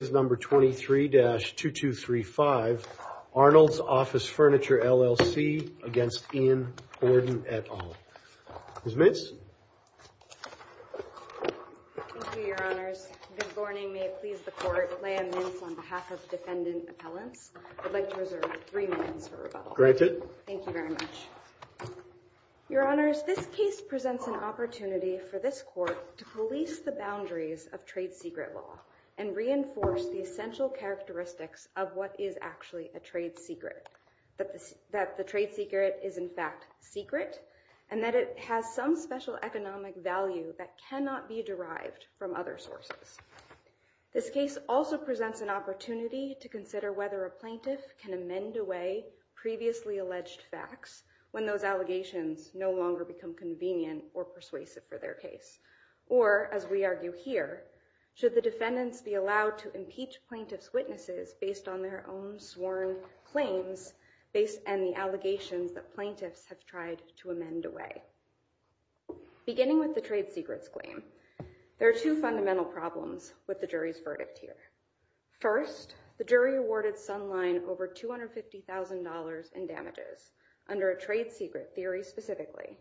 is number 23-2235 Arnold's Office Furniture LLC against Ian Borden at all. Miss Mince. Thank you, Your Honors. Good morning. May it please the court. Leigh Ann Mince on behalf of defendant appellants. I'd like to reserve three minutes for rebuttal. Thank you very much. Your Honors, this case presents an opportunity for this court to police the boundaries of trade secret law and reinforce the essential characteristics of what is actually a trade secret that the trade secret is in fact secret and that it has some special economic value that cannot be derived from other sources. This case also presents an opportunity to consider whether a plaintiff can amend away previously alleged facts when those allegations no longer become convenient or persuasive for their case or as we argue here, should the defendants be allowed to impeach plaintiff's witnesses based on their own sworn claims based and the allegations that plaintiffs have tried to amend away. Beginning with the trade secrets claim, there are two fundamental problems with the jury's verdict here. First, the jury awarded Sunline over $250,000 in damages under a trade secret theory specifically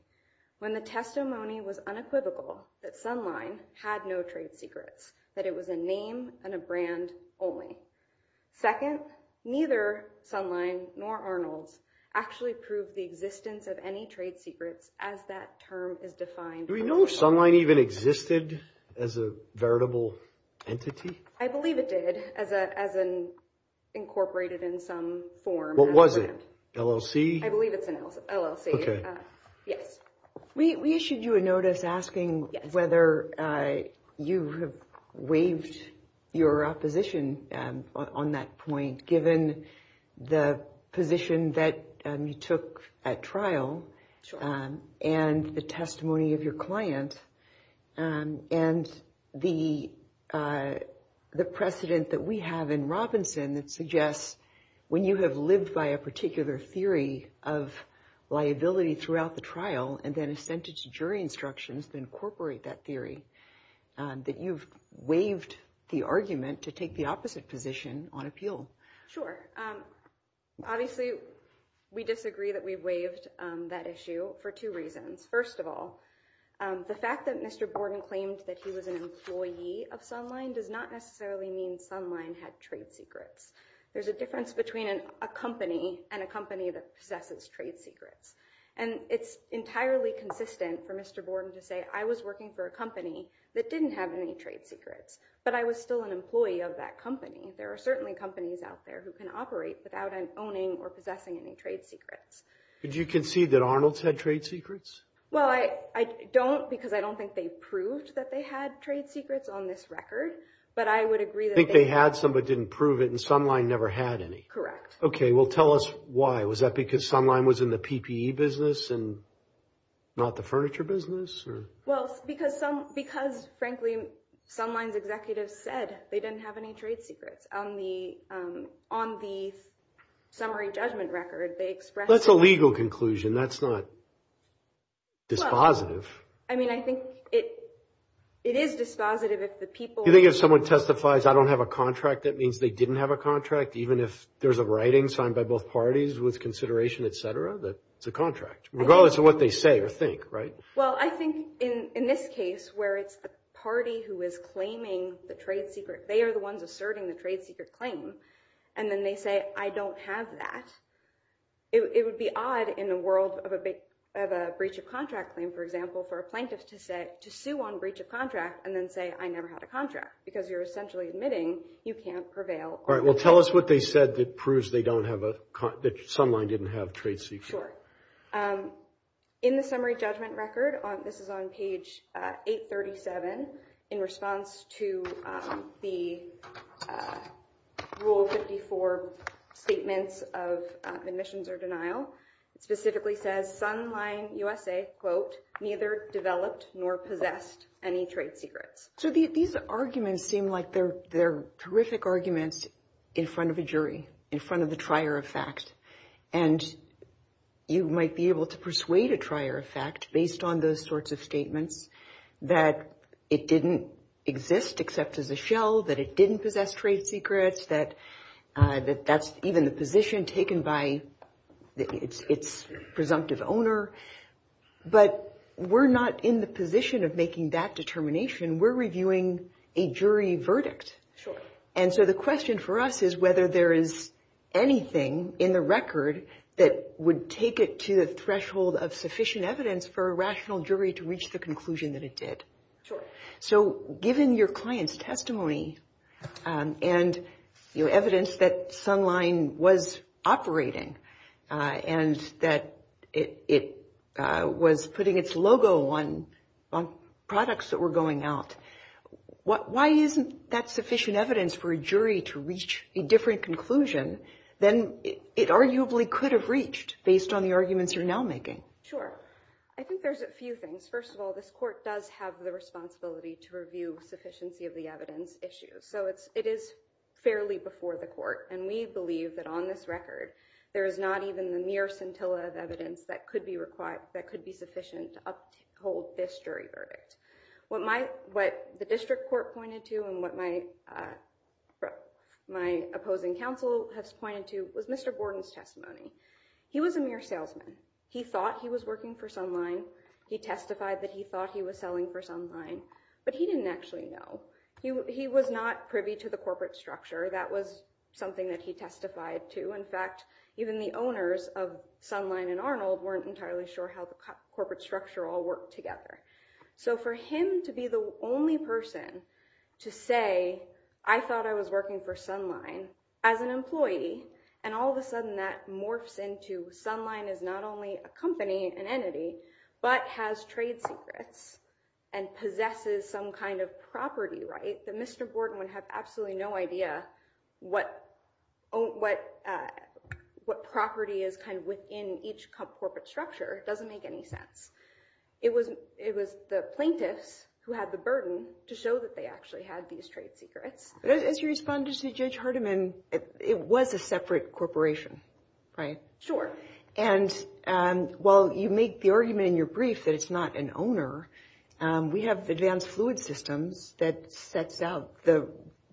when the testimony was unequivocal that Sunline had no trade secrets, that it was a name and a brand only. Second, neither Sunline nor Arnold's actually proved the existence of any trade secrets as that term is defined. Do we know if Sunline even existed as a veritable entity? I believe it did as an incorporated in some form. What was it? LLC? I believe it's an LLC. Okay. Yes, we issued you a notice asking whether you have waived your opposition on that point given the position that you took at trial and the testimony of your client and the precedent that we have in Robinson that suggests when you have lived by a particular theory of liability throughout the trial and then extended to jury instructions to incorporate that theory that you've waived the argument to take the opposite position on appeal. Sure. Obviously, we disagree that we waived that issue for two reasons. First of all, the fact that Mr. Borden claimed that he was an employee of Sunline does not necessarily mean Sunline had trade secrets. There's a difference between a company and a company that possesses trade secrets and it's entirely consistent for Mr. Borden to say I was working for a company that didn't have any trade secrets, but I was still an employee of that company. There are certainly companies out there who can operate without an owning or possessing any trade secrets. Could you concede that Arnold's had trade secrets? Well, I don't because I don't think they proved that they had trade secrets on this record, but I would agree that they had some but didn't prove it and Sunline never had any. Okay. Well, tell us why. Was that because Sunline was in the PPE business and not the furniture business? Well, because frankly, Sunline's executives said they didn't have any trade secrets on the summary judgment record. They expressed- That's a legal conclusion. That's not dispositive. I mean, I think it is dispositive if the people- Do you think if someone testifies, I don't have a contract, that means they didn't have a contract even if there's a writing signed by both parties with consideration, etc., that it's a contract regardless of what they say or think, right? Well, I think in this case where it's a party who is claiming the trade secret, they are the ones asserting the trade secret claim and then they say, I don't have that. It would be odd in the world of a breach of contract claim, for example, for a plaintiff to say, to sue on breach of contract and then say, I never had a contract because you're essentially admitting you can't prevail. All right, well, tell us what they said that proves they don't have a- that Sunline didn't have a trade secret. Sure. In the summary judgment record, this is on page 837 in response to the Rule 54 statements of admissions or denial. It specifically says, Sunline USA, quote, neither developed nor possessed any trade secrets. So these arguments seem like they're terrific arguments in front of a jury, in front of the trier of fact, and you might be able to persuade a trier of fact based on those sorts of statements that it didn't exist except as a shell, that it didn't possess trade secrets, that that's even the position taken by its presumptive owner, but we're not in the position of making that determination. We're reviewing a jury verdict. And so the question for us is whether there is anything in the record that would take it to the threshold of sufficient evidence for a rational jury to reach the conclusion that it did. Sure. So given your client's testimony and, you know, evidence that Sunline was operating and that it was putting its logo on products that were going out, why isn't that sufficient evidence for a jury to reach a different conclusion than it arguably could have reached based on the arguments you're now making? Sure. I think there's a few things. First of all, this court does have the responsibility to review sufficiency of the evidence issues. So it is fairly before the court, and we believe that on this record, there is not even the mere scintilla of evidence that could be required, that could be sufficient to uphold this jury verdict. What the district court pointed to and what my opposing counsel has pointed to was Mr. Gordon's testimony. He was a mere salesman. He thought he was working for Sunline. He testified that he thought he was selling for Sunline, but he didn't actually know. He was not privy to the corporate structure. That was something that he testified to. In fact, even the owners of Sunline and Arnold weren't entirely sure how the corporate structure all worked together. So for him to be the only person to say, I thought I was working for Sunline as an employee, and all of a sudden that morphs into Sunline is not only a company, an entity, but has trade secrets and possesses some kind of property, right? Mr. Gordon would have absolutely no idea what property is kind of within each corporate structure. It doesn't make any sense. It was the plaintiffs who had the burden to show that they actually had these trade secrets. But as you responded to Judge Hardiman, it was a separate corporation, right? Sure. And while you make the argument in your brief that it's not an owner, we have advanced fluid systems that sets out the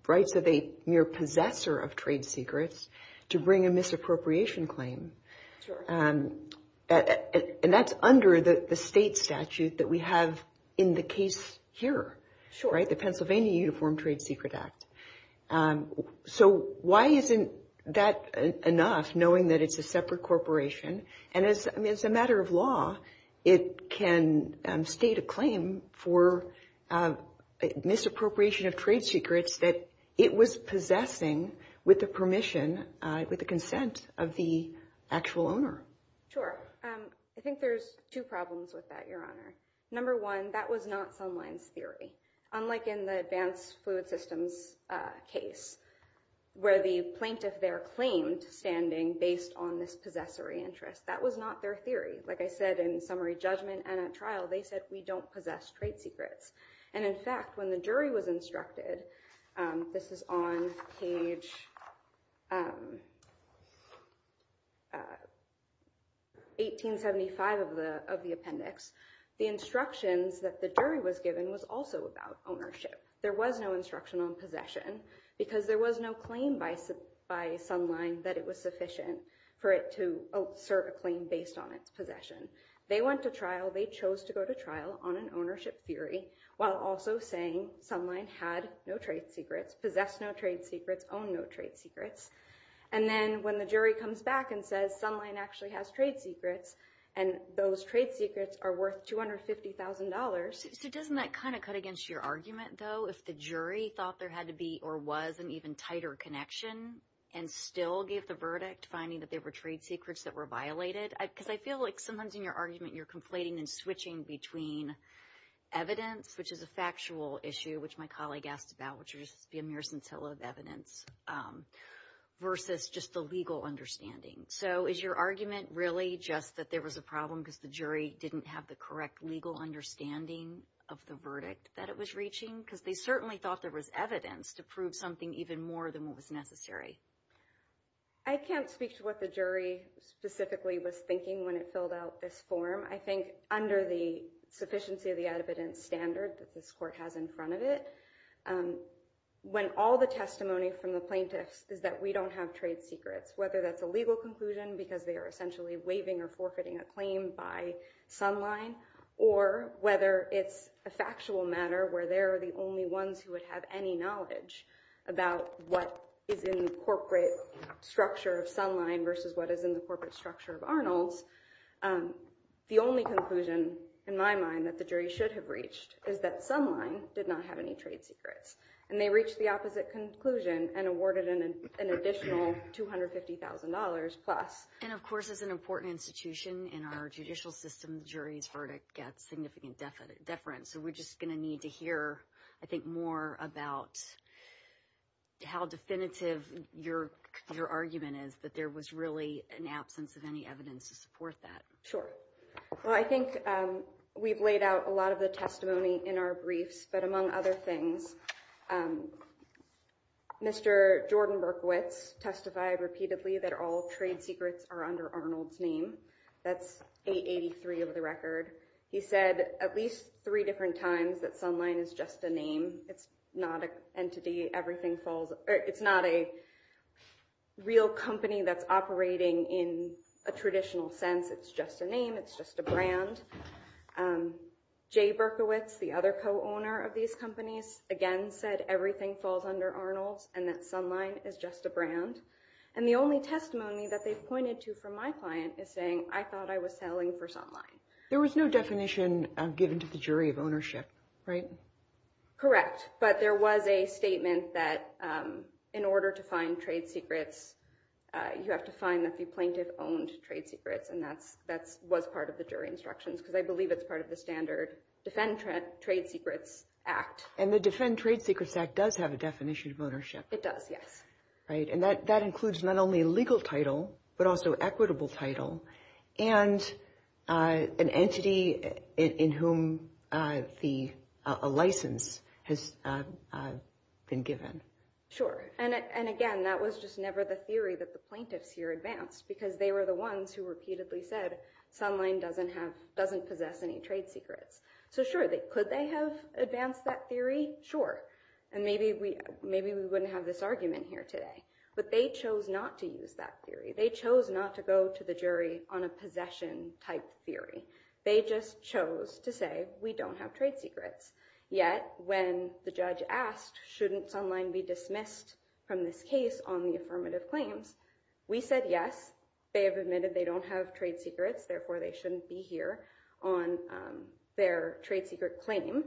rights of a mere possessor of trade secrets to bring a misappropriation claim. And that's under the state statute that we have in the case here, right? The Pennsylvania Uniform Trade Secret Act. So why isn't that enough, knowing that it's a separate corporation? And as a matter of law, it can state a claim for misappropriation of trade secrets that it was possessing with the permission, with the consent of the actual owner. Sure. I think there's two problems with that, Your Honor. Number one, that was not Sunline's theory. Unlike in the advanced fluid systems case, where the plaintiff their claim to standing based on this possessory interest. That was not their theory. Like I said, in summary judgment and at trial, they said we don't possess trade secrets. And in fact, when the jury was instructed, this is on page 1875 of the appendix, the instructions that the jury was given was also about ownership. There was no instruction on possession because there was no claim by Sunline that it was sufficient for it to assert a claim based on its possession. They went to trial. They chose to go to trial on an ownership theory while also saying Sunline had no trade secrets, possessed no trade secrets, owned no trade secrets. And then when the jury comes back and says Sunline actually has trade secrets and those trade secrets are worth $250,000. So doesn't that kind of cut against your argument, though, if the jury thought there had to be or was an even tighter connection and still gave the verdict finding that they were trade secrets that were violated? Because I feel like sometimes in your argument, you're conflating and switching between evidence, which is a factual issue, which my colleague asked about, which would just be a mere scintilla of evidence versus just the legal understanding. So is your argument really just that there was a problem because the jury didn't have the correct legal understanding of the verdict that it was reaching? Because they certainly thought there was evidence to prove something even more than what was necessary. I can't speak to what the jury specifically was thinking when it filled out this form. I think under the sufficiency of the evidence standard that this court has in front of it, when all the testimony from the plaintiffs is that we don't have trade secrets, whether that's a legal conclusion because they are essentially waiving or forfeiting a claim by Sunline or whether it's a factual matter where they're the only ones who would have any knowledge about what is in the corporate structure of Sunline versus what is in the corporate structure of Arnold's, the only conclusion in my mind that the jury should have reached is that Sunline did not have any trade secrets and they reached the opposite conclusion and awarded an additional $250,000 plus. And of course, as an important institution in our judicial system, jury's verdict gets significant deference. So we're just going to need to hear, I think, more about how definitive your argument is that there was really an absence of any evidence to support that. Sure. Well, I think we've laid out a lot of the testimony in our briefs, but among other things, Mr. Jordan Berkowitz testified repeatedly that all trade secrets are under Arnold's name. That's 883 of the record. He said at least three different times that Sunline is just a name. It's not an entity. Everything falls. It's not a real company that's operating in a traditional sense. It's just a name. It's just a brand. Jay Berkowitz, the other co-owner of these companies, again said everything falls under Arnold's and that Sunline is just a brand. And the only testimony that they pointed to from my client is saying, I thought I was selling for Sunline. There was no definition given to the jury of ownership, right? Correct. But there was a statement that in order to find trade secrets, you have to find that the plaintiff owned trade secrets. And that was part of the jury instructions because I believe it's part of the standard Defend Trade Secrets Act. And the Defend Trade Secrets Act does have a definition of ownership. It does. Yes. Right. And that includes not only a legal title, but also equitable title and an entity in whom the license has been given. Sure. And again, that was just never the theory that the plaintiffs here advanced because they were the ones who repeatedly said Sunline doesn't possess any trade secrets. So sure, could they have advanced that theory? Sure. And maybe we wouldn't have this argument here today, but they chose not to use that theory. They chose not to go to the jury on a possession type theory. They just chose to say we don't have trade secrets. Yet, when the judge asked, shouldn't Sunline be dismissed from this case on the affirmative claims? We said yes. They have admitted they don't have trade secrets. Therefore, they shouldn't be here on their trade secret claim.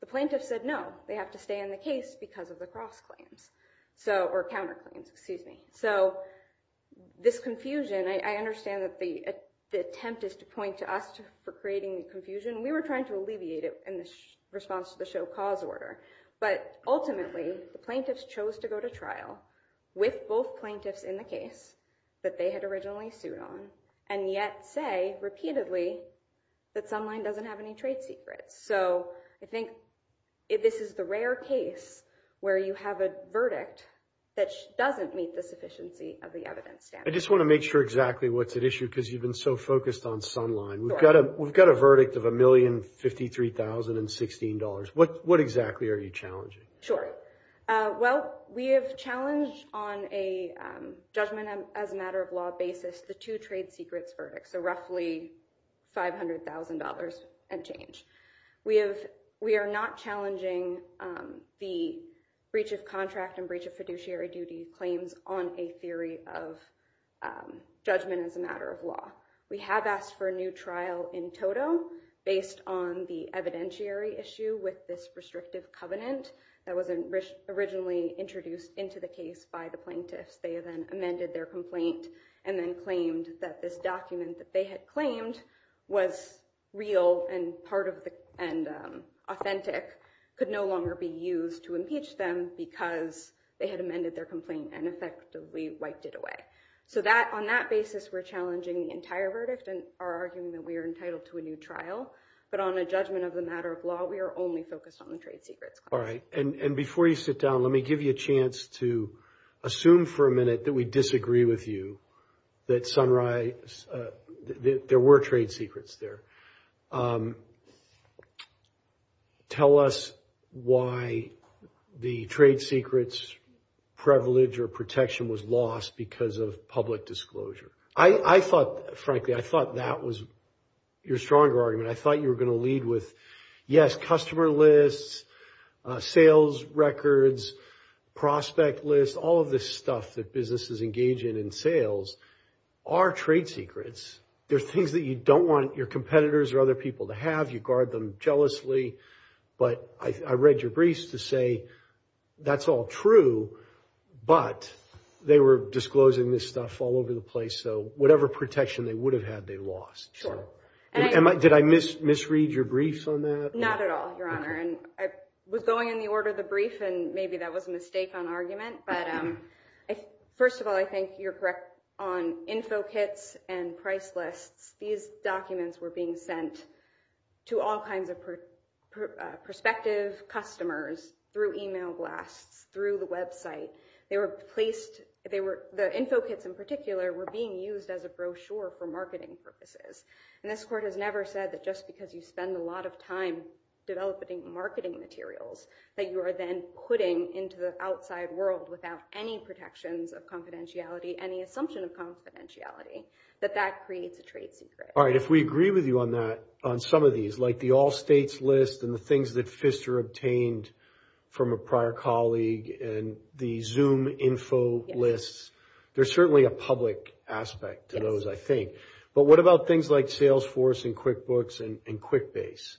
The plaintiff said no, they have to stay in the case because of the cross claims or counterclaims. Excuse me. So this confusion, I understand that the attempt is to point to us for creating the confusion. We were trying to alleviate it in response to the show cause order. But ultimately, the plaintiffs chose to go to trial with both plaintiffs in the case that they had originally sued on and yet say repeatedly that Sunline doesn't have any trade secrets. So I think if this is the rare case where you have a verdict that doesn't meet the sufficiency of the evidence standard. I just want to make sure exactly what's at issue because you've been so focused on Sunline. We've got a verdict of $1,053,016. What exactly are you challenging? Sure. Well, we have challenged on a judgment as a matter of law basis, the two We are not challenging the breach of contract and breach of fiduciary duty claims on a theory of judgment as a matter of law. We have asked for a new trial in total based on the evidentiary issue with this restrictive covenant that was originally introduced into the case by the plaintiffs. They then amended their complaint and then claimed that this document that they had claimed was real and part of the and authentic could no longer be used to impeach them because they had amended their complaint and effectively wiped it away. So that on that basis, we're challenging the entire verdict and are arguing that we are entitled to a new trial. But on a judgment of the matter of law, we are only focused on the trade secrets. All right. And before you sit down, let me give you a chance to assume for a minute that we disagree with you that there were trade secrets there. Tell us why the trade secrets privilege or protection was lost because of public disclosure. I thought, frankly, I thought that was your stronger argument. I thought you were going to lead with, yes, customer lists, sales records, prospect lists, all of this stuff that businesses engage in in sales are trade secrets. There are things that you don't want your competitors or other people to have. You guard them jealously. But I read your briefs to say that's all true, but they were disclosing this stuff all over the place. So whatever protection they would have had, they lost. Did I misread your briefs on that? Not at all, Your Honor. And I was going in the order of the document, but first of all, I think you're correct on info kits and price lists. These documents were being sent to all kinds of prospective customers through email blasts, through the website. They were placed, the info kits in particular were being used as a brochure for marketing purposes. And this Court has never said that just because you spend a lot of time developing marketing materials that you are then putting into the outside world without any protections of confidentiality, any assumption of confidentiality, that that creates a trade secret. All right. If we agree with you on that, on some of these, like the all states list and the things that Pfister obtained from a prior colleague and the Zoom info lists, there's certainly a public aspect to those, I think. But what about things like Salesforce and QuickBooks and QuickBase?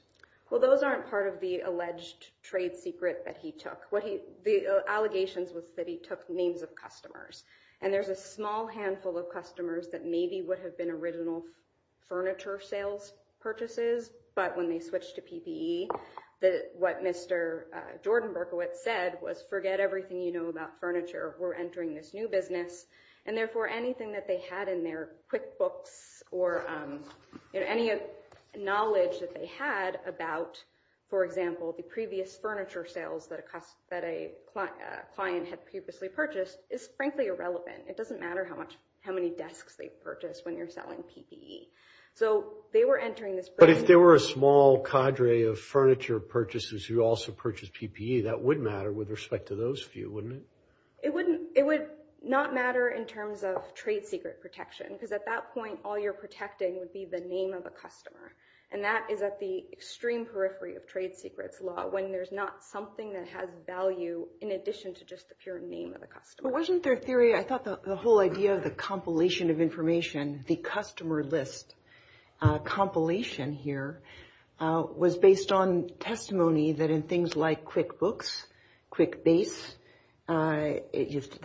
Well, those aren't part of the alleged trade secret that he took. The allegations was that he took names of customers. And there's a small handful of customers that maybe would have been original furniture sales purchases, but when they switched to PPE, what Mr. Jordan Berkowitz said was forget everything you know about furniture. We're entering this new business. And therefore, anything that they had in their QuickBooks or any knowledge that they had about, for example, furniture sales that a client had previously purchased is frankly irrelevant. It doesn't matter how many desks they purchased when you're selling PPE. So they were entering this. But if there were a small cadre of furniture purchases who also purchased PPE, that would matter with respect to those few, wouldn't it? It would not matter in terms of trade secret protection, because at that point, all you're protecting would be the name of a customer. And that is at the extreme periphery of trade secrets law when there's not something that has value in addition to just the pure name of the customer. But wasn't their theory, I thought the whole idea of the compilation of information, the customer list compilation here, was based on testimony that in things like QuickBooks, QuickBase, the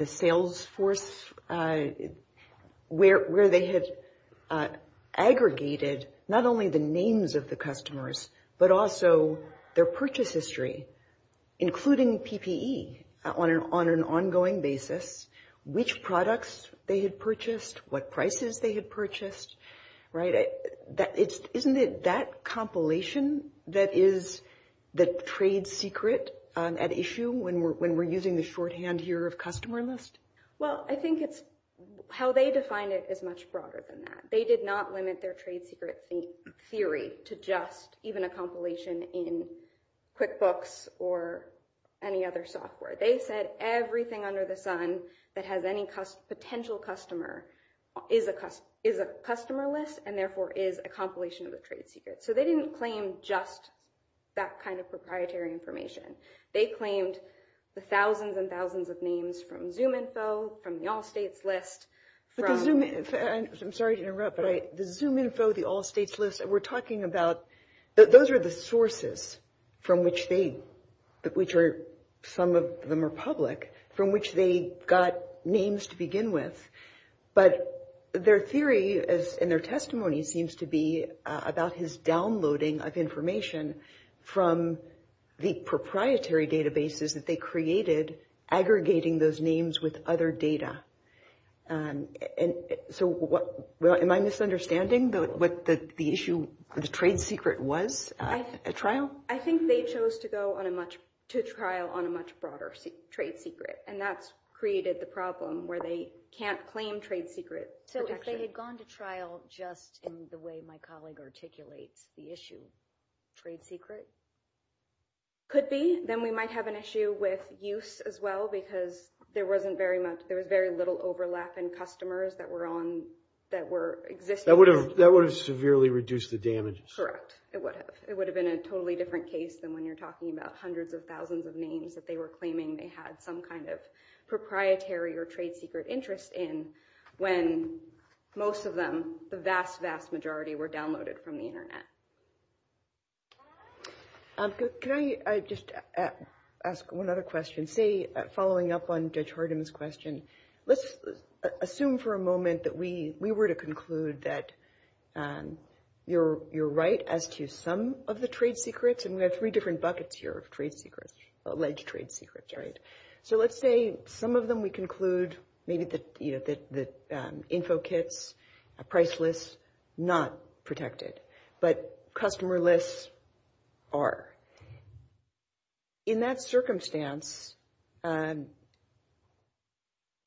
Salesforce, where they had aggregated not only the names of the customers, but also their purchase history, including PPE on an ongoing basis, which products they had purchased, what prices they had purchased, right? Isn't it that compilation that is the trade secret at issue when we're using the shorthand here of customer list? Well, I think it's how they define it is much broader than that. They did not limit their trade secret theory to just even a compilation in QuickBooks or any other software. They said everything under the sun that has any potential customer is a customer list and therefore is a compilation of the trade secret. So they didn't claim just that kind of proprietary information. They claimed the thousands and thousands of names from Zoom info, from the Allstates list. I'm sorry to interrupt, but the Zoom info, the Allstates list, we're talking about, those are the sources from which some of them are public, from which they got names to begin with, but their theory and their testimony seems to be about his downloading of information from the proprietary databases that they created aggregating those names with other data. So am I misunderstanding what the issue, the trade secret was at trial? I think they chose to go on a much, to trial on a much broader trade secret and that's created the problem where they can't claim trade secret. So if they had gone to trial just in the way my colleague articulates the issue, trade secret? Could be, then we might have an issue with use as well because there wasn't very much, there was very little overlap in customers that were on, that were existing. That would have severely reduced the damage. Correct. It would have. It would have been a totally different case than when you're talking about hundreds of thousands of names that they were claiming they had some kind of proprietary or trade secret interest in when most of them, the vast, vast majority were downloaded from the Internet. Can I just ask one other question? Say, following up on Judge Hardin's question, let's assume for a moment that we were to conclude that you're right as to some of the trade secrets and we have three different buckets here of trade secrets, alleged trade secrets, right? So let's say some of them we conclude, maybe the info kits, price lists, not protected, but customer lists are. In that circumstance, do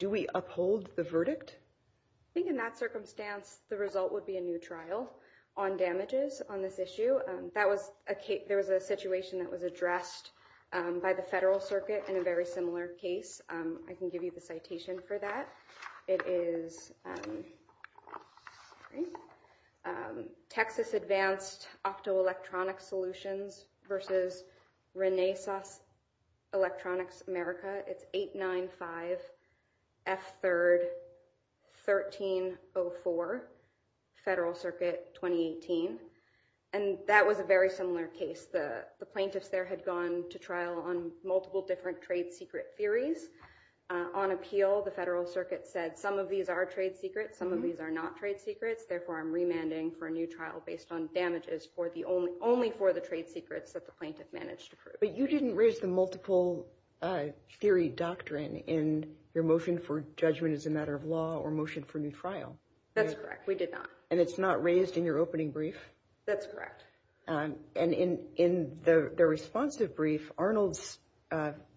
we uphold the verdict? I think in that circumstance, the result would be a new trial on damages on this issue. That was a case, there was a situation that was addressed by the Federal Circuit in a very similar case. I can give you the citation for that. It is Texas Advanced Optoelectronics Solutions versus Renesas Electronics America. It's 895F3-1304, Federal Circuit 2018. And that was a very similar case. The plaintiffs there had gone to trial on multiple different trade secret theories. On appeal, the Federal Circuit said some of these are trade secrets, some of these are not trade secrets. Therefore, I'm remanding for a new trial based on damages only for the trade secrets that the plaintiff managed to prove. But you didn't raise the multiple theory doctrine in your motion for judgment as a matter of law or motion for new trial. That's correct. We did not. And it's not raised in your opening brief? That's correct. And in the responsive brief, Arnold's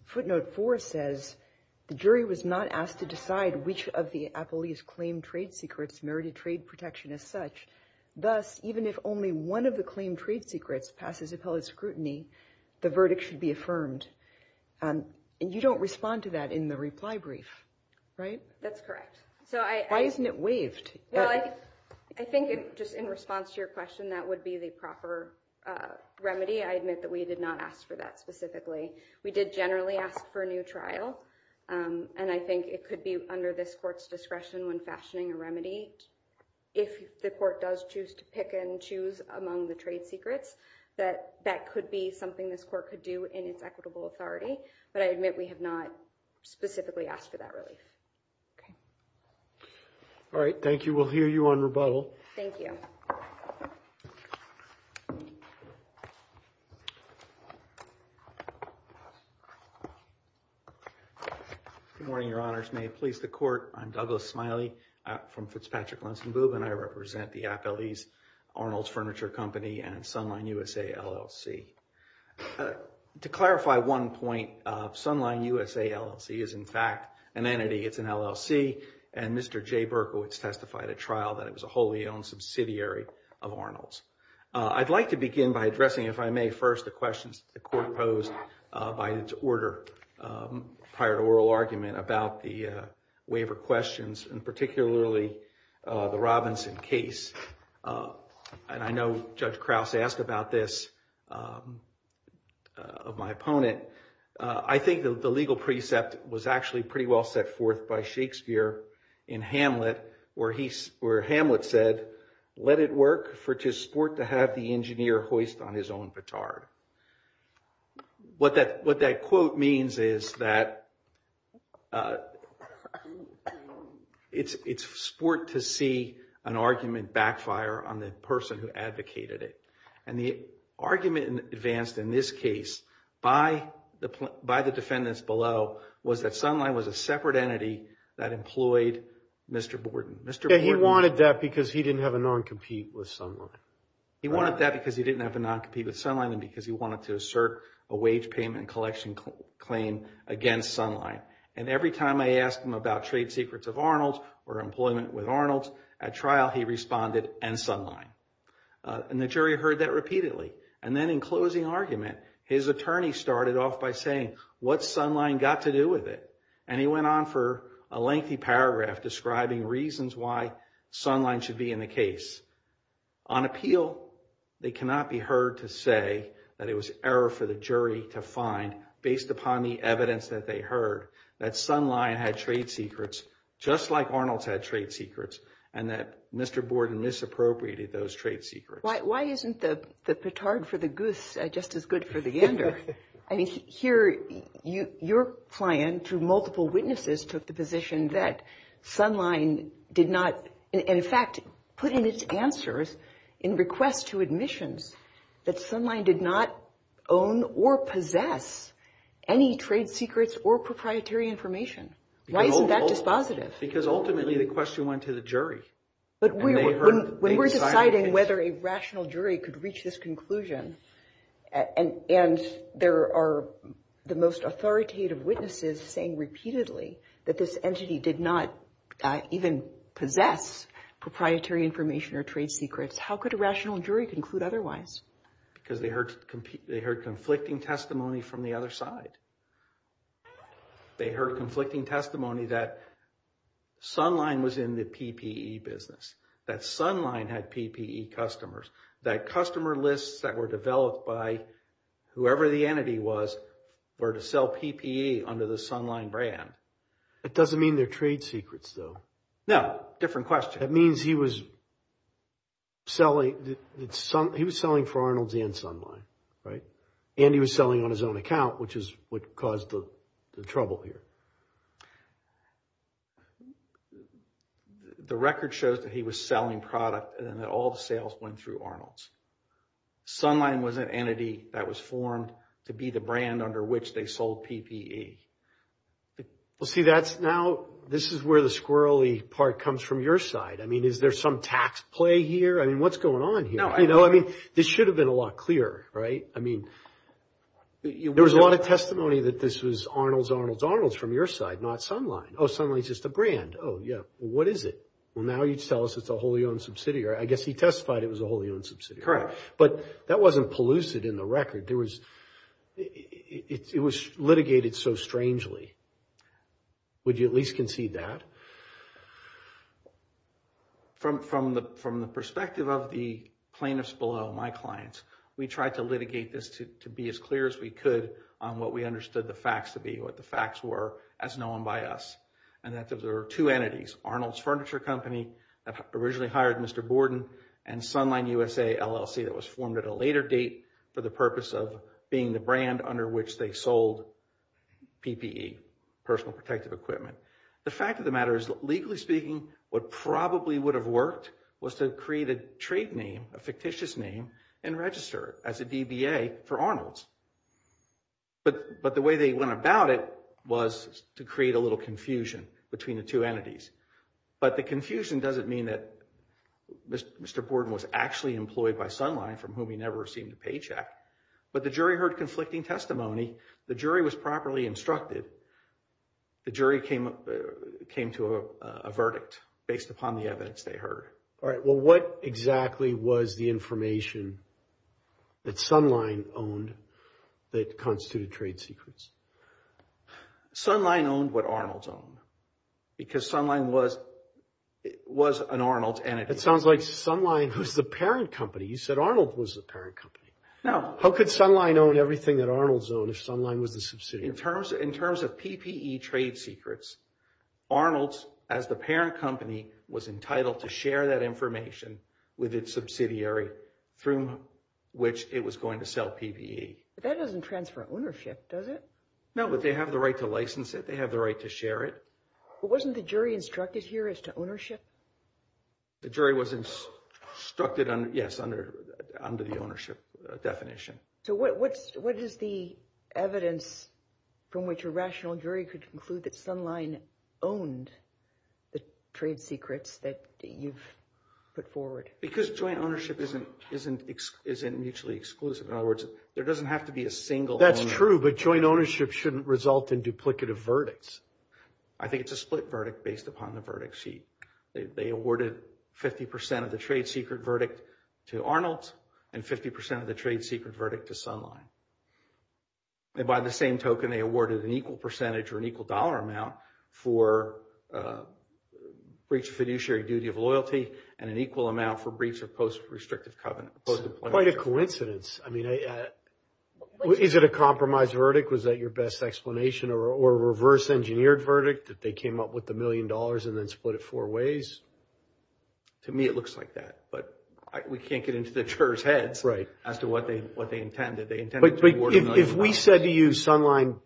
footnote 4 says the jury was not asked to decide which of the appellees claimed trade secrets merited trade protection as such. Thus, even if only one of the claimed trade secrets passes appellate scrutiny, the verdict should be affirmed. And you don't respond to that in the reply brief, right? That's correct. So I... Why isn't it waived? Well, I think just in response to your question, that would be the proper remedy. I admit that we did not ask for that specifically. We did generally ask for a new trial, and I think it could be under this court's discretion when fashioning a remedy. If the court does choose to pick and choose among the trade secrets, that could be something this court could do in its equitable authority. But I admit we have not specifically asked for that relief. All right. Thank you. We'll hear you on rebuttal. Thank you. Good morning, Your Honors. May it please the court. I'm Douglas Smiley from Fitzpatrick-Lunsenboob, and I represent the appellees Arnold's Furniture Company and Sunline USA LLC. To clarify one point, Sunline USA LLC is in fact an entity. It's an LLC, and Mr. Jay Berkowitz testified at trial that it was a wholly-owned subsidiary of Arnold's. I'd like to begin by addressing, if I may, first the questions that the court posed by its order prior to oral argument about the waiver questions, and particularly the Robinson case. And I know Judge Krause asked about this of my opponent. I think the legal precept was actually pretty well set forth by Shakespeare in Hamlet, where Hamlet said, let it work for to sport to have the engineer hoist on his own petard. What that quote means is that it's sport to see an argument backfire on the person who advocated it. And the argument advanced in this case by the defendants below was that Sunline was a separate entity that employed Mr. Borden. He wanted that because he didn't have a non-compete with Sunline. He wanted that because he didn't have a non-compete with Sunline and because he wanted to assert a wage payment collection claim against Sunline. And every time I asked him about trade secrets of Arnold's or employment with Arnold's at trial, he responded and Sunline. And the jury heard that repeatedly. And then in closing argument, his attorney started off by saying, what's Sunline got to do with it? And he went on for a lengthy paragraph describing reasons why Sunline should be in the case. On appeal, they cannot be heard to say that it was error for the jury to find, based upon the evidence that they heard, that Sunline had trade secrets just like Arnold's had trade secrets and that Mr. Borden misappropriated those trade secrets. Why isn't the petard for the goose just as good for the ender? I mean, here, your client, through multiple witnesses, took the position that Sunline did not, in fact, put in its answers in request to admissions that Sunline did not own or possess any trade secrets or proprietary information. Why isn't that dispositive? Because ultimately the question went to the jury. But when we're deciding whether a rational jury could reach this conclusion, and there are the most authoritative witnesses saying repeatedly that this entity did not even possess proprietary information or trade secrets, how could a rational jury conclude otherwise? Because they heard conflicting testimony from the other side. They heard conflicting testimony that Sunline was in the PPE business, that Sunline had PPE customers, that customer lists that were developed by whoever the entity was, were to sell PPE under the Sunline brand. It doesn't mean they're trade secrets, though. No, different question. It means he was selling for Arnold's and Sunline, right? And he was selling on his own account, which is what caused the trouble here. The record shows that he was selling product and that all the sales went through Arnold's. Sunline was an entity that was formed to be the brand under which they sold PPE. Well, see, that's now, this is where the squirrely part comes from your side. I mean, is there some tax play here? I mean, what's going on here? You know, I mean, this should have been a lot clearer, right? I mean, there was a lot of testimony that this was Arnold's, Arnold's, Arnold's for me. For your side, not Sunline. Oh, Sunline's just a brand. Oh, yeah. What is it? Well, now you tell us it's a wholly owned subsidiary. I guess he testified it was a wholly owned subsidiary. But that wasn't pellucid in the record. There was, it was litigated so strangely. Would you at least concede that? From the perspective of the plaintiffs below, my clients, we tried to litigate this to be as clear as we could on what we understood the facts to be, what the facts were as known by us, and that there are two entities, Arnold's Furniture Company that originally hired Mr. Borden and Sunline USA LLC that was formed at a later date for the purpose of being the brand under which they sold PPE, personal protective equipment. The fact of the matter is, legally speaking, what probably would have worked was to create a trade name, a fictitious name, and register it as a DBA for Arnold's. But the way they went about it was to create a little confusion between the two entities. But the confusion doesn't mean that Mr. Borden was actually employed by Sunline, from whom he never received a paycheck, but the jury heard conflicting testimony. The jury was properly instructed. The jury came to a verdict based upon the evidence they heard. All right. Well, what exactly was the information that Sunline owned that constituted trade secrets? Sunline owned what Arnold's owned, because Sunline was an Arnold's entity. It sounds like Sunline was the parent company. You said Arnold was the parent company. No. How could Sunline own everything that Arnold's owned if Sunline was the subsidiary? In terms of PPE trade secrets, Arnold's, as the parent company, was entitled to share that information with its subsidiary through which it was going to sell PPE. But that doesn't transfer ownership, does it? No, but they have the right to license it. They have the right to share it. But wasn't the jury instructed here as to ownership? The jury was instructed, yes, under the ownership definition. So what is the evidence from which a rational jury could conclude that Sunline owned the trade secrets that you've put forward? Because joint ownership isn't mutually exclusive. In other words, there doesn't have to be a single owner. That's true, but joint ownership shouldn't result in duplicative verdicts. I think it's a split verdict based upon the verdict sheet. They awarded 50% of the trade secret verdict to Arnold and 50% of the trade secret verdict to Sunline. And by the same token, they awarded an equal percentage or an equal dollar amount for breach of fiduciary duty of loyalty and an equal amount for breach of post-restrictive covenant. Quite a coincidence. I mean, is it a compromise verdict? Was that your best explanation or a reverse engineered verdict that they came up with the million dollars and then split it four ways? To me, it looks like that, but we can't get into the jurors heads as to what they intended. They intended to award a million dollars. If we said to you Sunline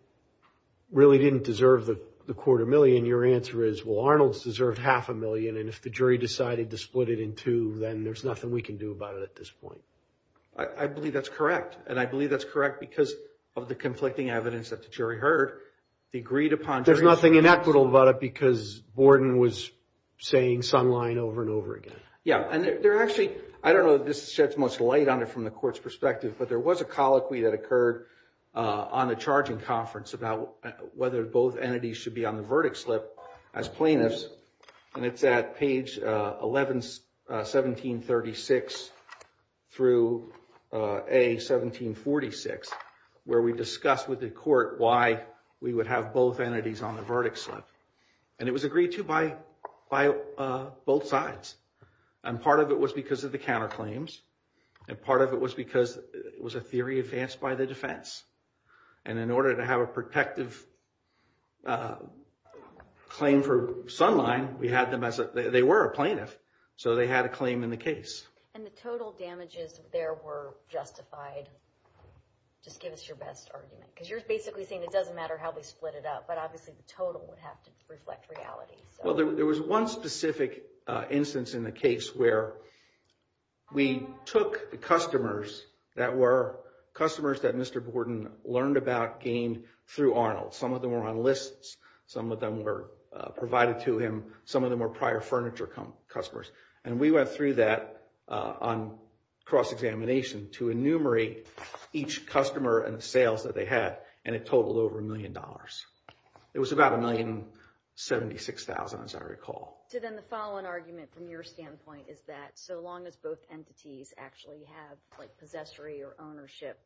really didn't deserve the quarter million, your answer is, well, Arnold's deserved half a million and if the jury decided to split it in two, then there's nothing we can do about it at this point. I believe that's correct. And I believe that's correct because of the conflicting evidence that the jury heard, they agreed upon. There's nothing inequitable about it because Borden was saying Sunline over and over again. Yeah, and they're actually, I don't know that this sheds most light on it from the court's perspective, but there was a colloquy that occurred on the charging conference about whether both entities should be on the verdict slip as plaintiffs and it's at page 11, 1736 through A, 1746 where we discussed with the court why we would have both entities on the verdict slip and it was agreed to by both sides and part of it was because of the counterclaims and part of it was because it was a theory advanced by the defense and in order to have a protective claim for Sunline, we had them as, they were a plaintiff, so they had a claim in the case. And the total damages there were justified. Just give us your best argument because you're basically saying it doesn't matter how they split it up, but obviously the total would have to reflect reality. Well, there was one specific instance in the case where we took the customers that were customers that Mr. Arnold, some of them were on lists, some of them were provided to him, some of them were prior furniture customers, and we went through that on cross-examination to enumerate each customer and sales that they had and it totaled over a million dollars. It was about a million seventy-six thousand as I recall. So then the following argument from your standpoint is that so long as both entities actually have like possessory or ownership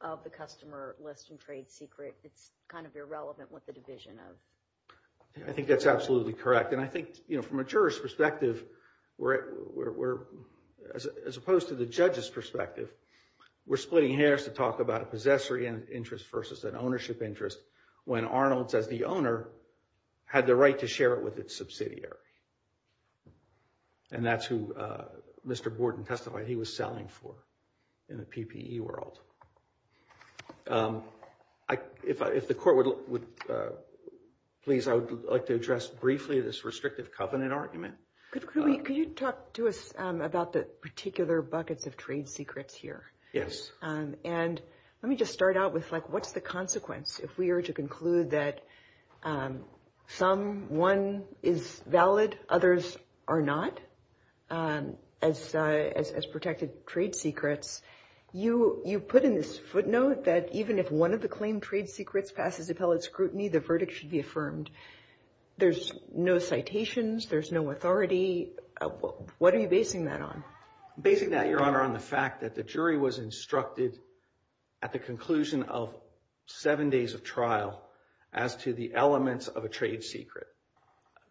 of the customer list and trade secret, it's kind of irrelevant what the division of. I think that's absolutely correct. And I think, you know, from a juror's perspective, we're, as opposed to the judge's perspective, we're splitting hairs to talk about a possessory interest versus an ownership interest when Arnold's as the owner had the right to share it with its subsidiary. And that's who Mr. Borden testified he was selling for in the PPE world. If the court would please, I would like to address briefly this restrictive covenant argument. Could you talk to us about the particular buckets of trade secrets here? Yes. And let me just start out with like, what's the consequence if we were to conclude that some, one is valid, others are not? As protected trade secrets, you put in this footnote that even if one of the claim trade secrets passes appellate scrutiny, the verdict should be affirmed. There's no citations. There's no authority. What are you basing that on? Basing that, Your Honor, on the fact that the jury was instructed at the conclusion of seven days of trial as to the elements of a trade secret.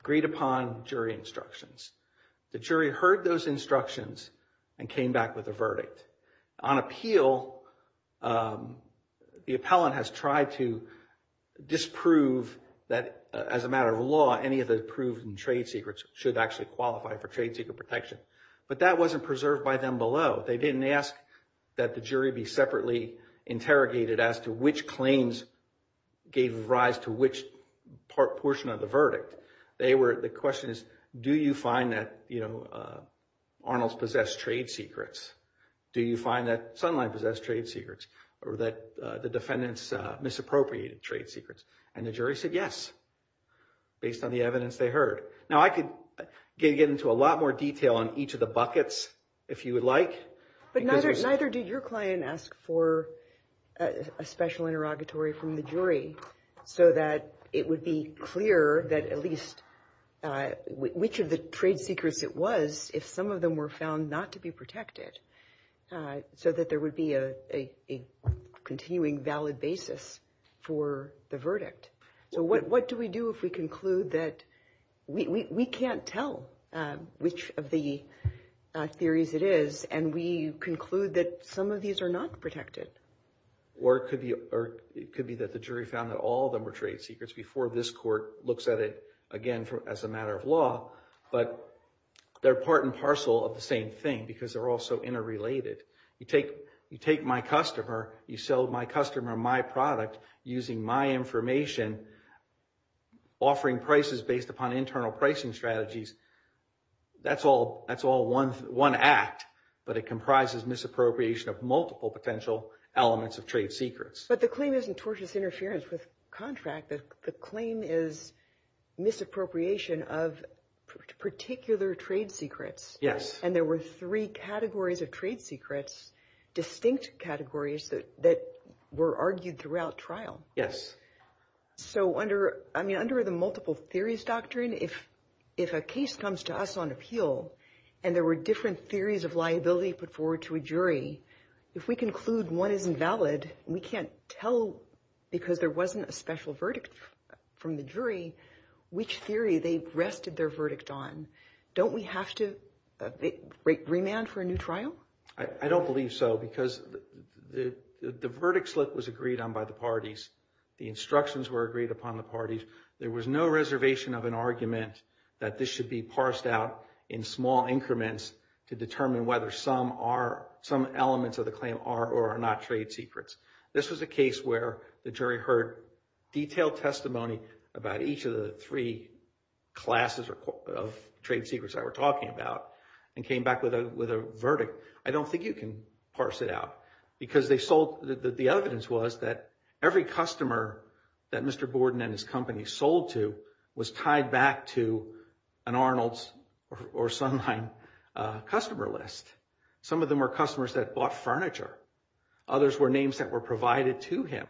Agreed upon jury instructions. The jury heard those instructions and came back with a verdict. On appeal, the appellant has tried to disprove that as a matter of law, any of the approved trade secrets should actually qualify for trade secret protection, but that wasn't preserved by them below. They didn't ask that the jury be separately interrogated as to which claims gave rise to which portion of the verdict. They were, the question is, do you find that, you know, Arnold's possessed trade secrets? Do you find that Sunline possessed trade secrets or that the defendants misappropriated trade secrets? And the jury said yes, based on the evidence they heard. Now, I could get into a lot more detail on each of the buckets if you would like. But neither did your client ask for a special interrogatory from the jury so that it would be clear that at least which of the trade secrets it was, if some of them were found not to be protected, so that there would be a continuing valid basis for the verdict. So what do we do if we conclude that we can't tell which of the theories it is and we conclude that some of these are not protected? Or it could be that the jury found that all of them were trade secrets before this court looks at it again as a matter of law, but they're part and parcel of the same thing because they're also interrelated. You take my customer, you sell my customer my product using my information, offering prices based upon internal pricing strategies. That's all one act, but it comprises misappropriation of multiple potential elements of trade secrets. But the claim isn't tortious interference with contract. The claim is misappropriation of particular trade secrets. Yes. And there were three categories of trade secrets, distinct categories that were argued throughout trial. Yes. So under the multiple theories doctrine, if a case comes to us on appeal and there were different theories of liability they put forward to a jury, if we conclude one isn't valid, we can't tell because there wasn't a special verdict from the jury which theory they rested their verdict on. Don't we have to remand for a new trial? I don't believe so because the verdict slip was agreed on by the parties. The instructions were agreed upon the parties. There was no reservation of an argument that this should be parsed out in small increments to determine whether some are some elements of the claim are or are not trade secrets. This was a case where the jury heard detailed testimony about each of the three classes of trade secrets I were talking about and came back with a verdict. I don't think you can parse it out because they sold the evidence was that every customer that Mr. and Arnold's or Sunline customer list. Some of them are customers that bought furniture. Others were names that were provided to him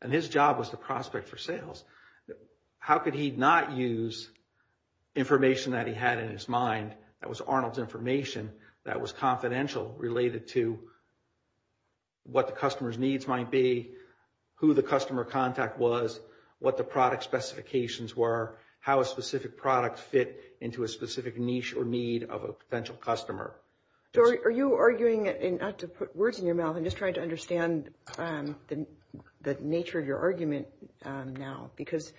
and his job was the prospect for sales. How could he not use information that he had in his mind? That was Arnold's information that was confidential related to what the customers needs might be, who the customer contact was, what the product specifications were, how a specific product fit into a specific niche or need of a potential customer. So are you arguing and not to put words in your mouth and just trying to understand the nature of your argument now because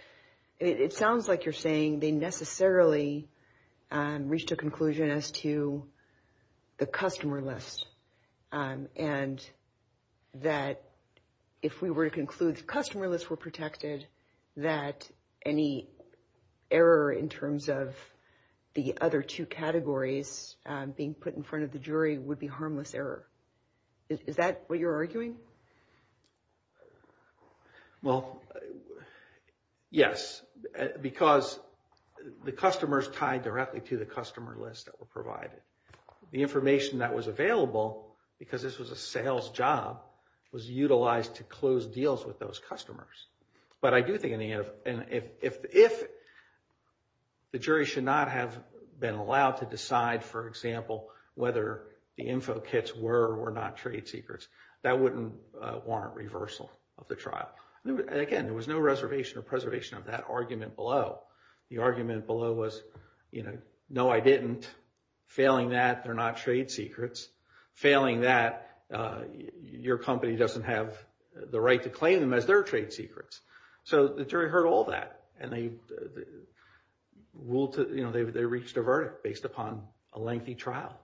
it sounds like you're saying they necessarily reached a conclusion as to the customer list and that if we were to customer list were protected that any error in terms of the other two categories being put in front of the jury would be harmless error. Is that what you're arguing? Well, yes, because the customers tied directly to the customer list that were provided. The information that was available because this was a sales job was utilized to close deals with those customers. But I do think if the jury should not have been allowed to decide, for example, whether the info kits were or were not trade secrets, that wouldn't warrant reversal of the trial. Again, there was no reservation or preservation of that argument below. The argument below was, you know, no, I didn't. Failing that, they're not trade secrets. Failing that, your company doesn't have the right to claim them as their trade secrets. So the jury heard all that and they reached a verdict based upon a lengthy trial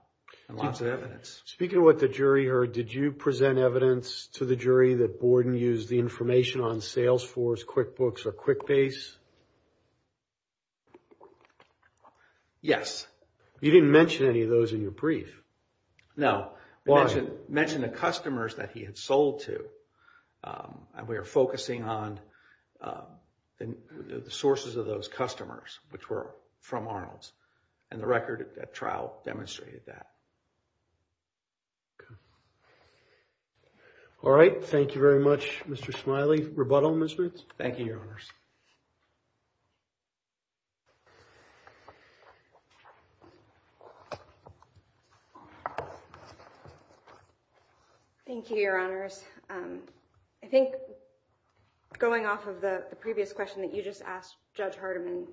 and lots of evidence. Speaking of what the jury heard, did you present evidence to the jury that Borden used the information on Salesforce, QuickBooks, or QuickBase? Yes. You didn't mention any of those in your brief. No. I mentioned the customers that he had sold to and we are focusing on the sources of those customers, which were from Arnold's, and the record at trial demonstrated that. All right. Thank you very much, Mr. Smiley. Rebuttal, Ms. Ritz? Thank you, Your Honors. Thank you, Your Honors. I think going off of the previous question that you just asked, Judge Hardiman,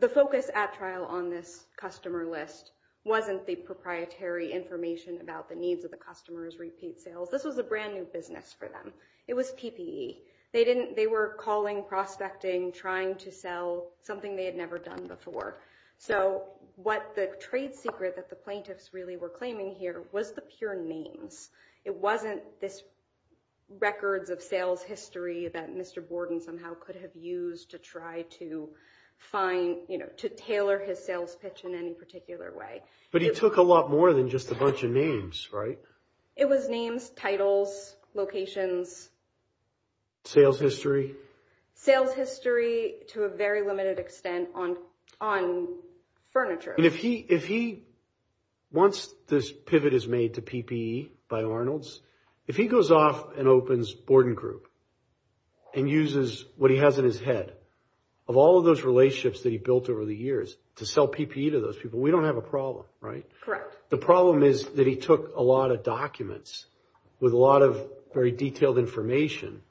the focus at trial on this customer list wasn't the proprietary information about the needs of the customers, repeat sales. This was a brand new business for them. It was PPE. They were calling, prospecting, trying to sell something they had never done before. So what the trade secret that the plaintiffs really were claiming here was the pure names. It wasn't this records of sales history that Mr. Borden somehow could have used to try to find, to tailor his sales pitch in any particular way. But he took a lot more than just a bunch of names, right? It was names, titles, locations. Sales history. Sales history to a very limited extent on furniture. And if he, once this pivot is made to PPE by Arnold's, if he goes off and opens Borden Group and uses what he has in his head of all of those relationships that he built over the years to sell PPE to those people, we don't have a problem, right? Correct. The problem is that he took a lot of documents with a lot of very detailed information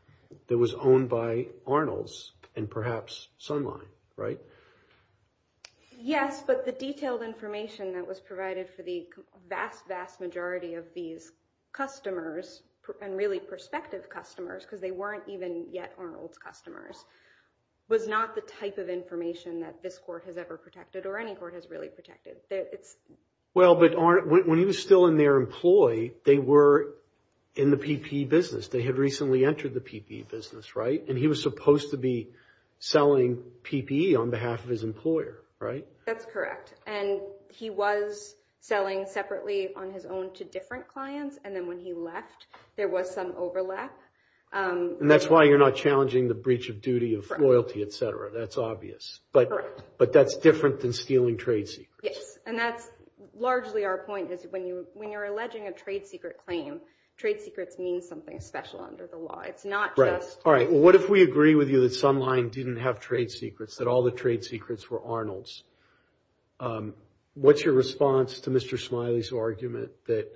that was owned by Arnold's and perhaps Sunline, right? Yes, but the detailed information that was provided for the vast, vast majority of these customers and really prospective customers, because they weren't even yet Arnold's customers, was not the type of information that this court has ever protected or any court has really protected. Well, but when he was still in their employ, they were in the PPE business. They had recently entered the PPE business, right? And he was supposed to be selling PPE on behalf of his employer, right? That's correct. And he was selling separately on his own to different clients. And then when he left, there was some overlap. And that's why you're not challenging the breach of duty of loyalty, etc. That's obvious. Correct. But that's different than stealing trade secrets. Yes, and that's largely our point is when you're alleging a trade secret claim, trade secrets mean something special under the law. It's not just- All right. Well, what if we agree with you that Sunline didn't have trade secrets, that all the trade secrets were Arnold's? What's your response to Mr. Smiley's argument that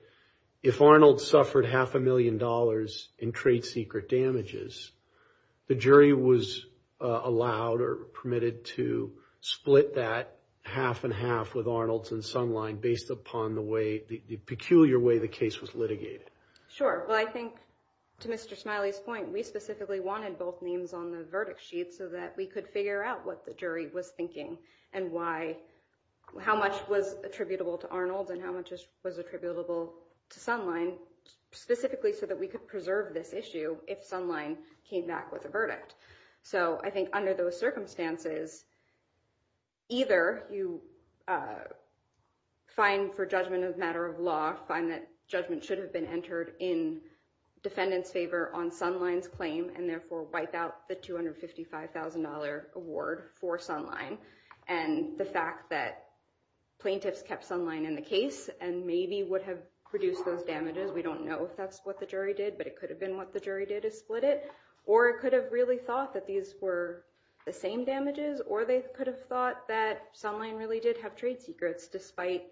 if Arnold suffered half a million dollars in trade secret damages, the jury was allowed or permitted to split that half and half with Arnold's and Sunline based upon the way, the peculiar way the case was litigated? Sure. Well, I think to Mr. Smiley's point, we specifically wanted both names on the verdict sheet so that we could figure out what the jury was thinking and why, how much was attributable to Arnold and how much was attributable to Sunline, specifically so that we could preserve this issue if Sunline came back with a verdict. So I think under those circumstances, either you find for judgment of matter of law, find that judgment should have been entered in defendant's favor on Sunline's claim and therefore wipe out the $255,000 award for Sunline and the fact that plaintiffs kept Sunline in the case and maybe would have produced those damages. We don't know if that's what the jury did, but it could have been what the jury did is split it or it could have really thought that these were the same damages or they could have thought that Sunline really did have trade secrets despite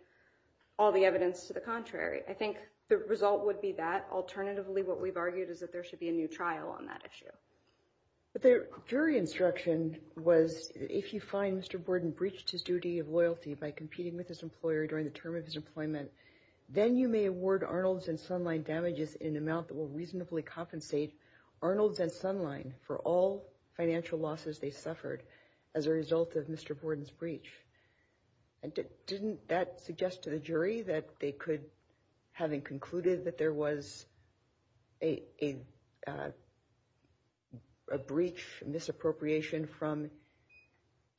all the evidence to the contrary. I think the result would be that alternatively what we've argued is that there should be a new trial on that issue. But the jury instruction was if you find Mr. Borden breached his duty of loyalty by competing with his employer during the term of his employment, then you may award Arnold's and Sunline damages in amount that will reasonably compensate Arnold's and Sunline for all financial losses they suffered as a result of Mr. Borden's breach. And didn't that suggest to the jury that they could having concluded that there was a breach misappropriation from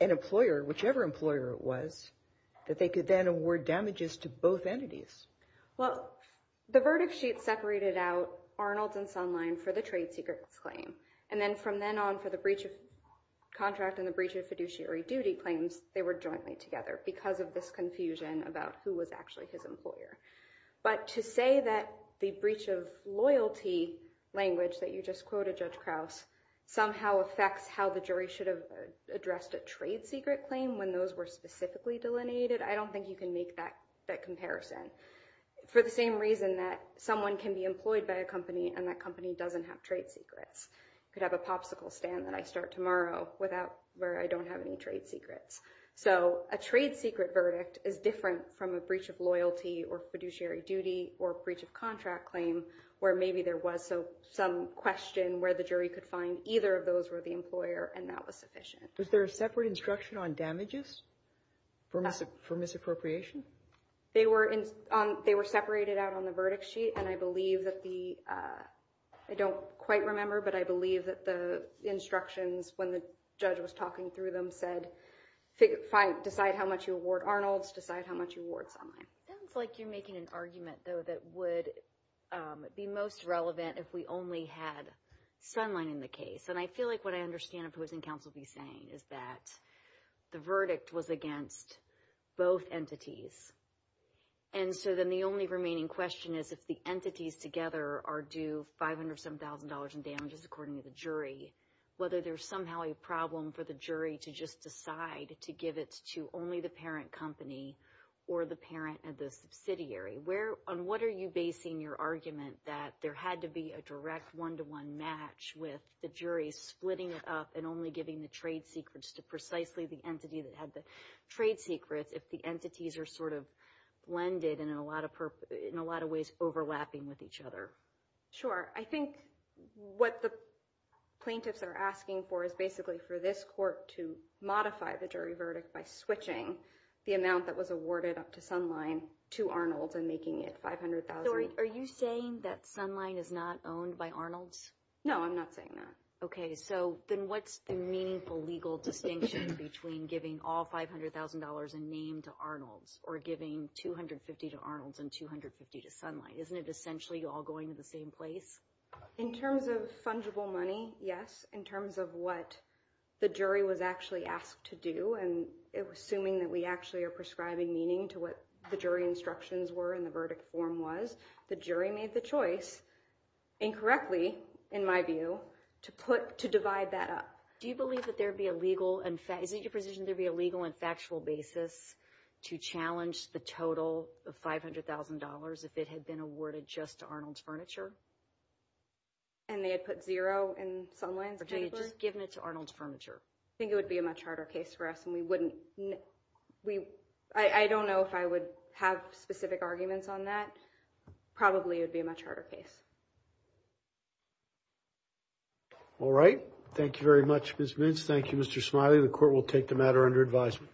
an employer, whichever employer it was, that they could then award damages to both entities? Well, the verdict sheet separated out Arnold's and Sunline for the trade secrets claim and then from then on for the breach of contract and the breach of fiduciary duty claims, they were jointly together because of this confusion about who was actually his employer. But to say that the breach of loyalty language that you just quoted Judge Krause somehow affects how the jury should have addressed a trade secret claim when those were specifically delineated. I don't think you can make that comparison for the same reason that someone can be employed by a company and that company doesn't have trade secrets. You could have a popsicle stand that I start tomorrow without where I don't have any trade secrets. So a trade secret verdict is different from a breach of loyalty or fiduciary duty or breach of contract claim where maybe there was some question where the jury could find either of those were the employer and that was sufficient. Was there a separate instruction on damages for misappropriation? They were separated out on the verdict sheet and I believe that the, I don't quite remember, but I believe that the instructions when the judge was talking through them said, decide how much you award Arnold's, decide how much you award Sunline. It sounds like you're making an argument though that would be most relevant if we only had Sunline in the case. And I feel like what I understand opposing counsel be saying is that the verdict was against both entities. And so then the only remaining question is if the entities together are due five hundred seven thousand dollars in damages, according to the jury, whether there's somehow a problem for the jury to just decide to give it to only the parent company or the parent of the subsidiary. On what are you basing your argument that there had to be a direct one-to-one match with the jury splitting it up and only giving the trade secrets to precisely the entity that had the trade secrets if the entities are sort of blended and in a lot of ways overlapping with each other? Sure. I think what the plaintiffs are asking for is basically for this court to modify the jury verdict by switching the amount that was awarded up to Sunline to Arnold's and making it five hundred thousand. Are you saying that Sunline is not owned by Arnold's? No, I'm not saying that. Okay. So then what's the meaningful legal distinction between giving all five hundred thousand dollars in name to Arnold's or giving 250 to Arnold's and 250 to Sunline? Isn't it essentially all going to the same place? In terms of fungible money, yes. In terms of what the jury was actually asked to do and it was assuming that we actually are prescribing meaning to what the jury instructions were in the verdict form was, the jury made the choice, incorrectly in my view, to divide that up. Do you believe that there'd be a legal and factual basis to challenge the total of five hundred thousand dollars if it had been awarded just to Arnold's Furniture? And they had put zero in Sunline's verdict? Or they had just given it to Arnold's Furniture. I think it would be a much harder case for us and we wouldn't, we, I don't know if I would have specific arguments on that. Probably it would be a much harder case. All right. Thank you very much, Ms. Mintz. Thank you, Mr. Smiley. The court will take the matter under advisement.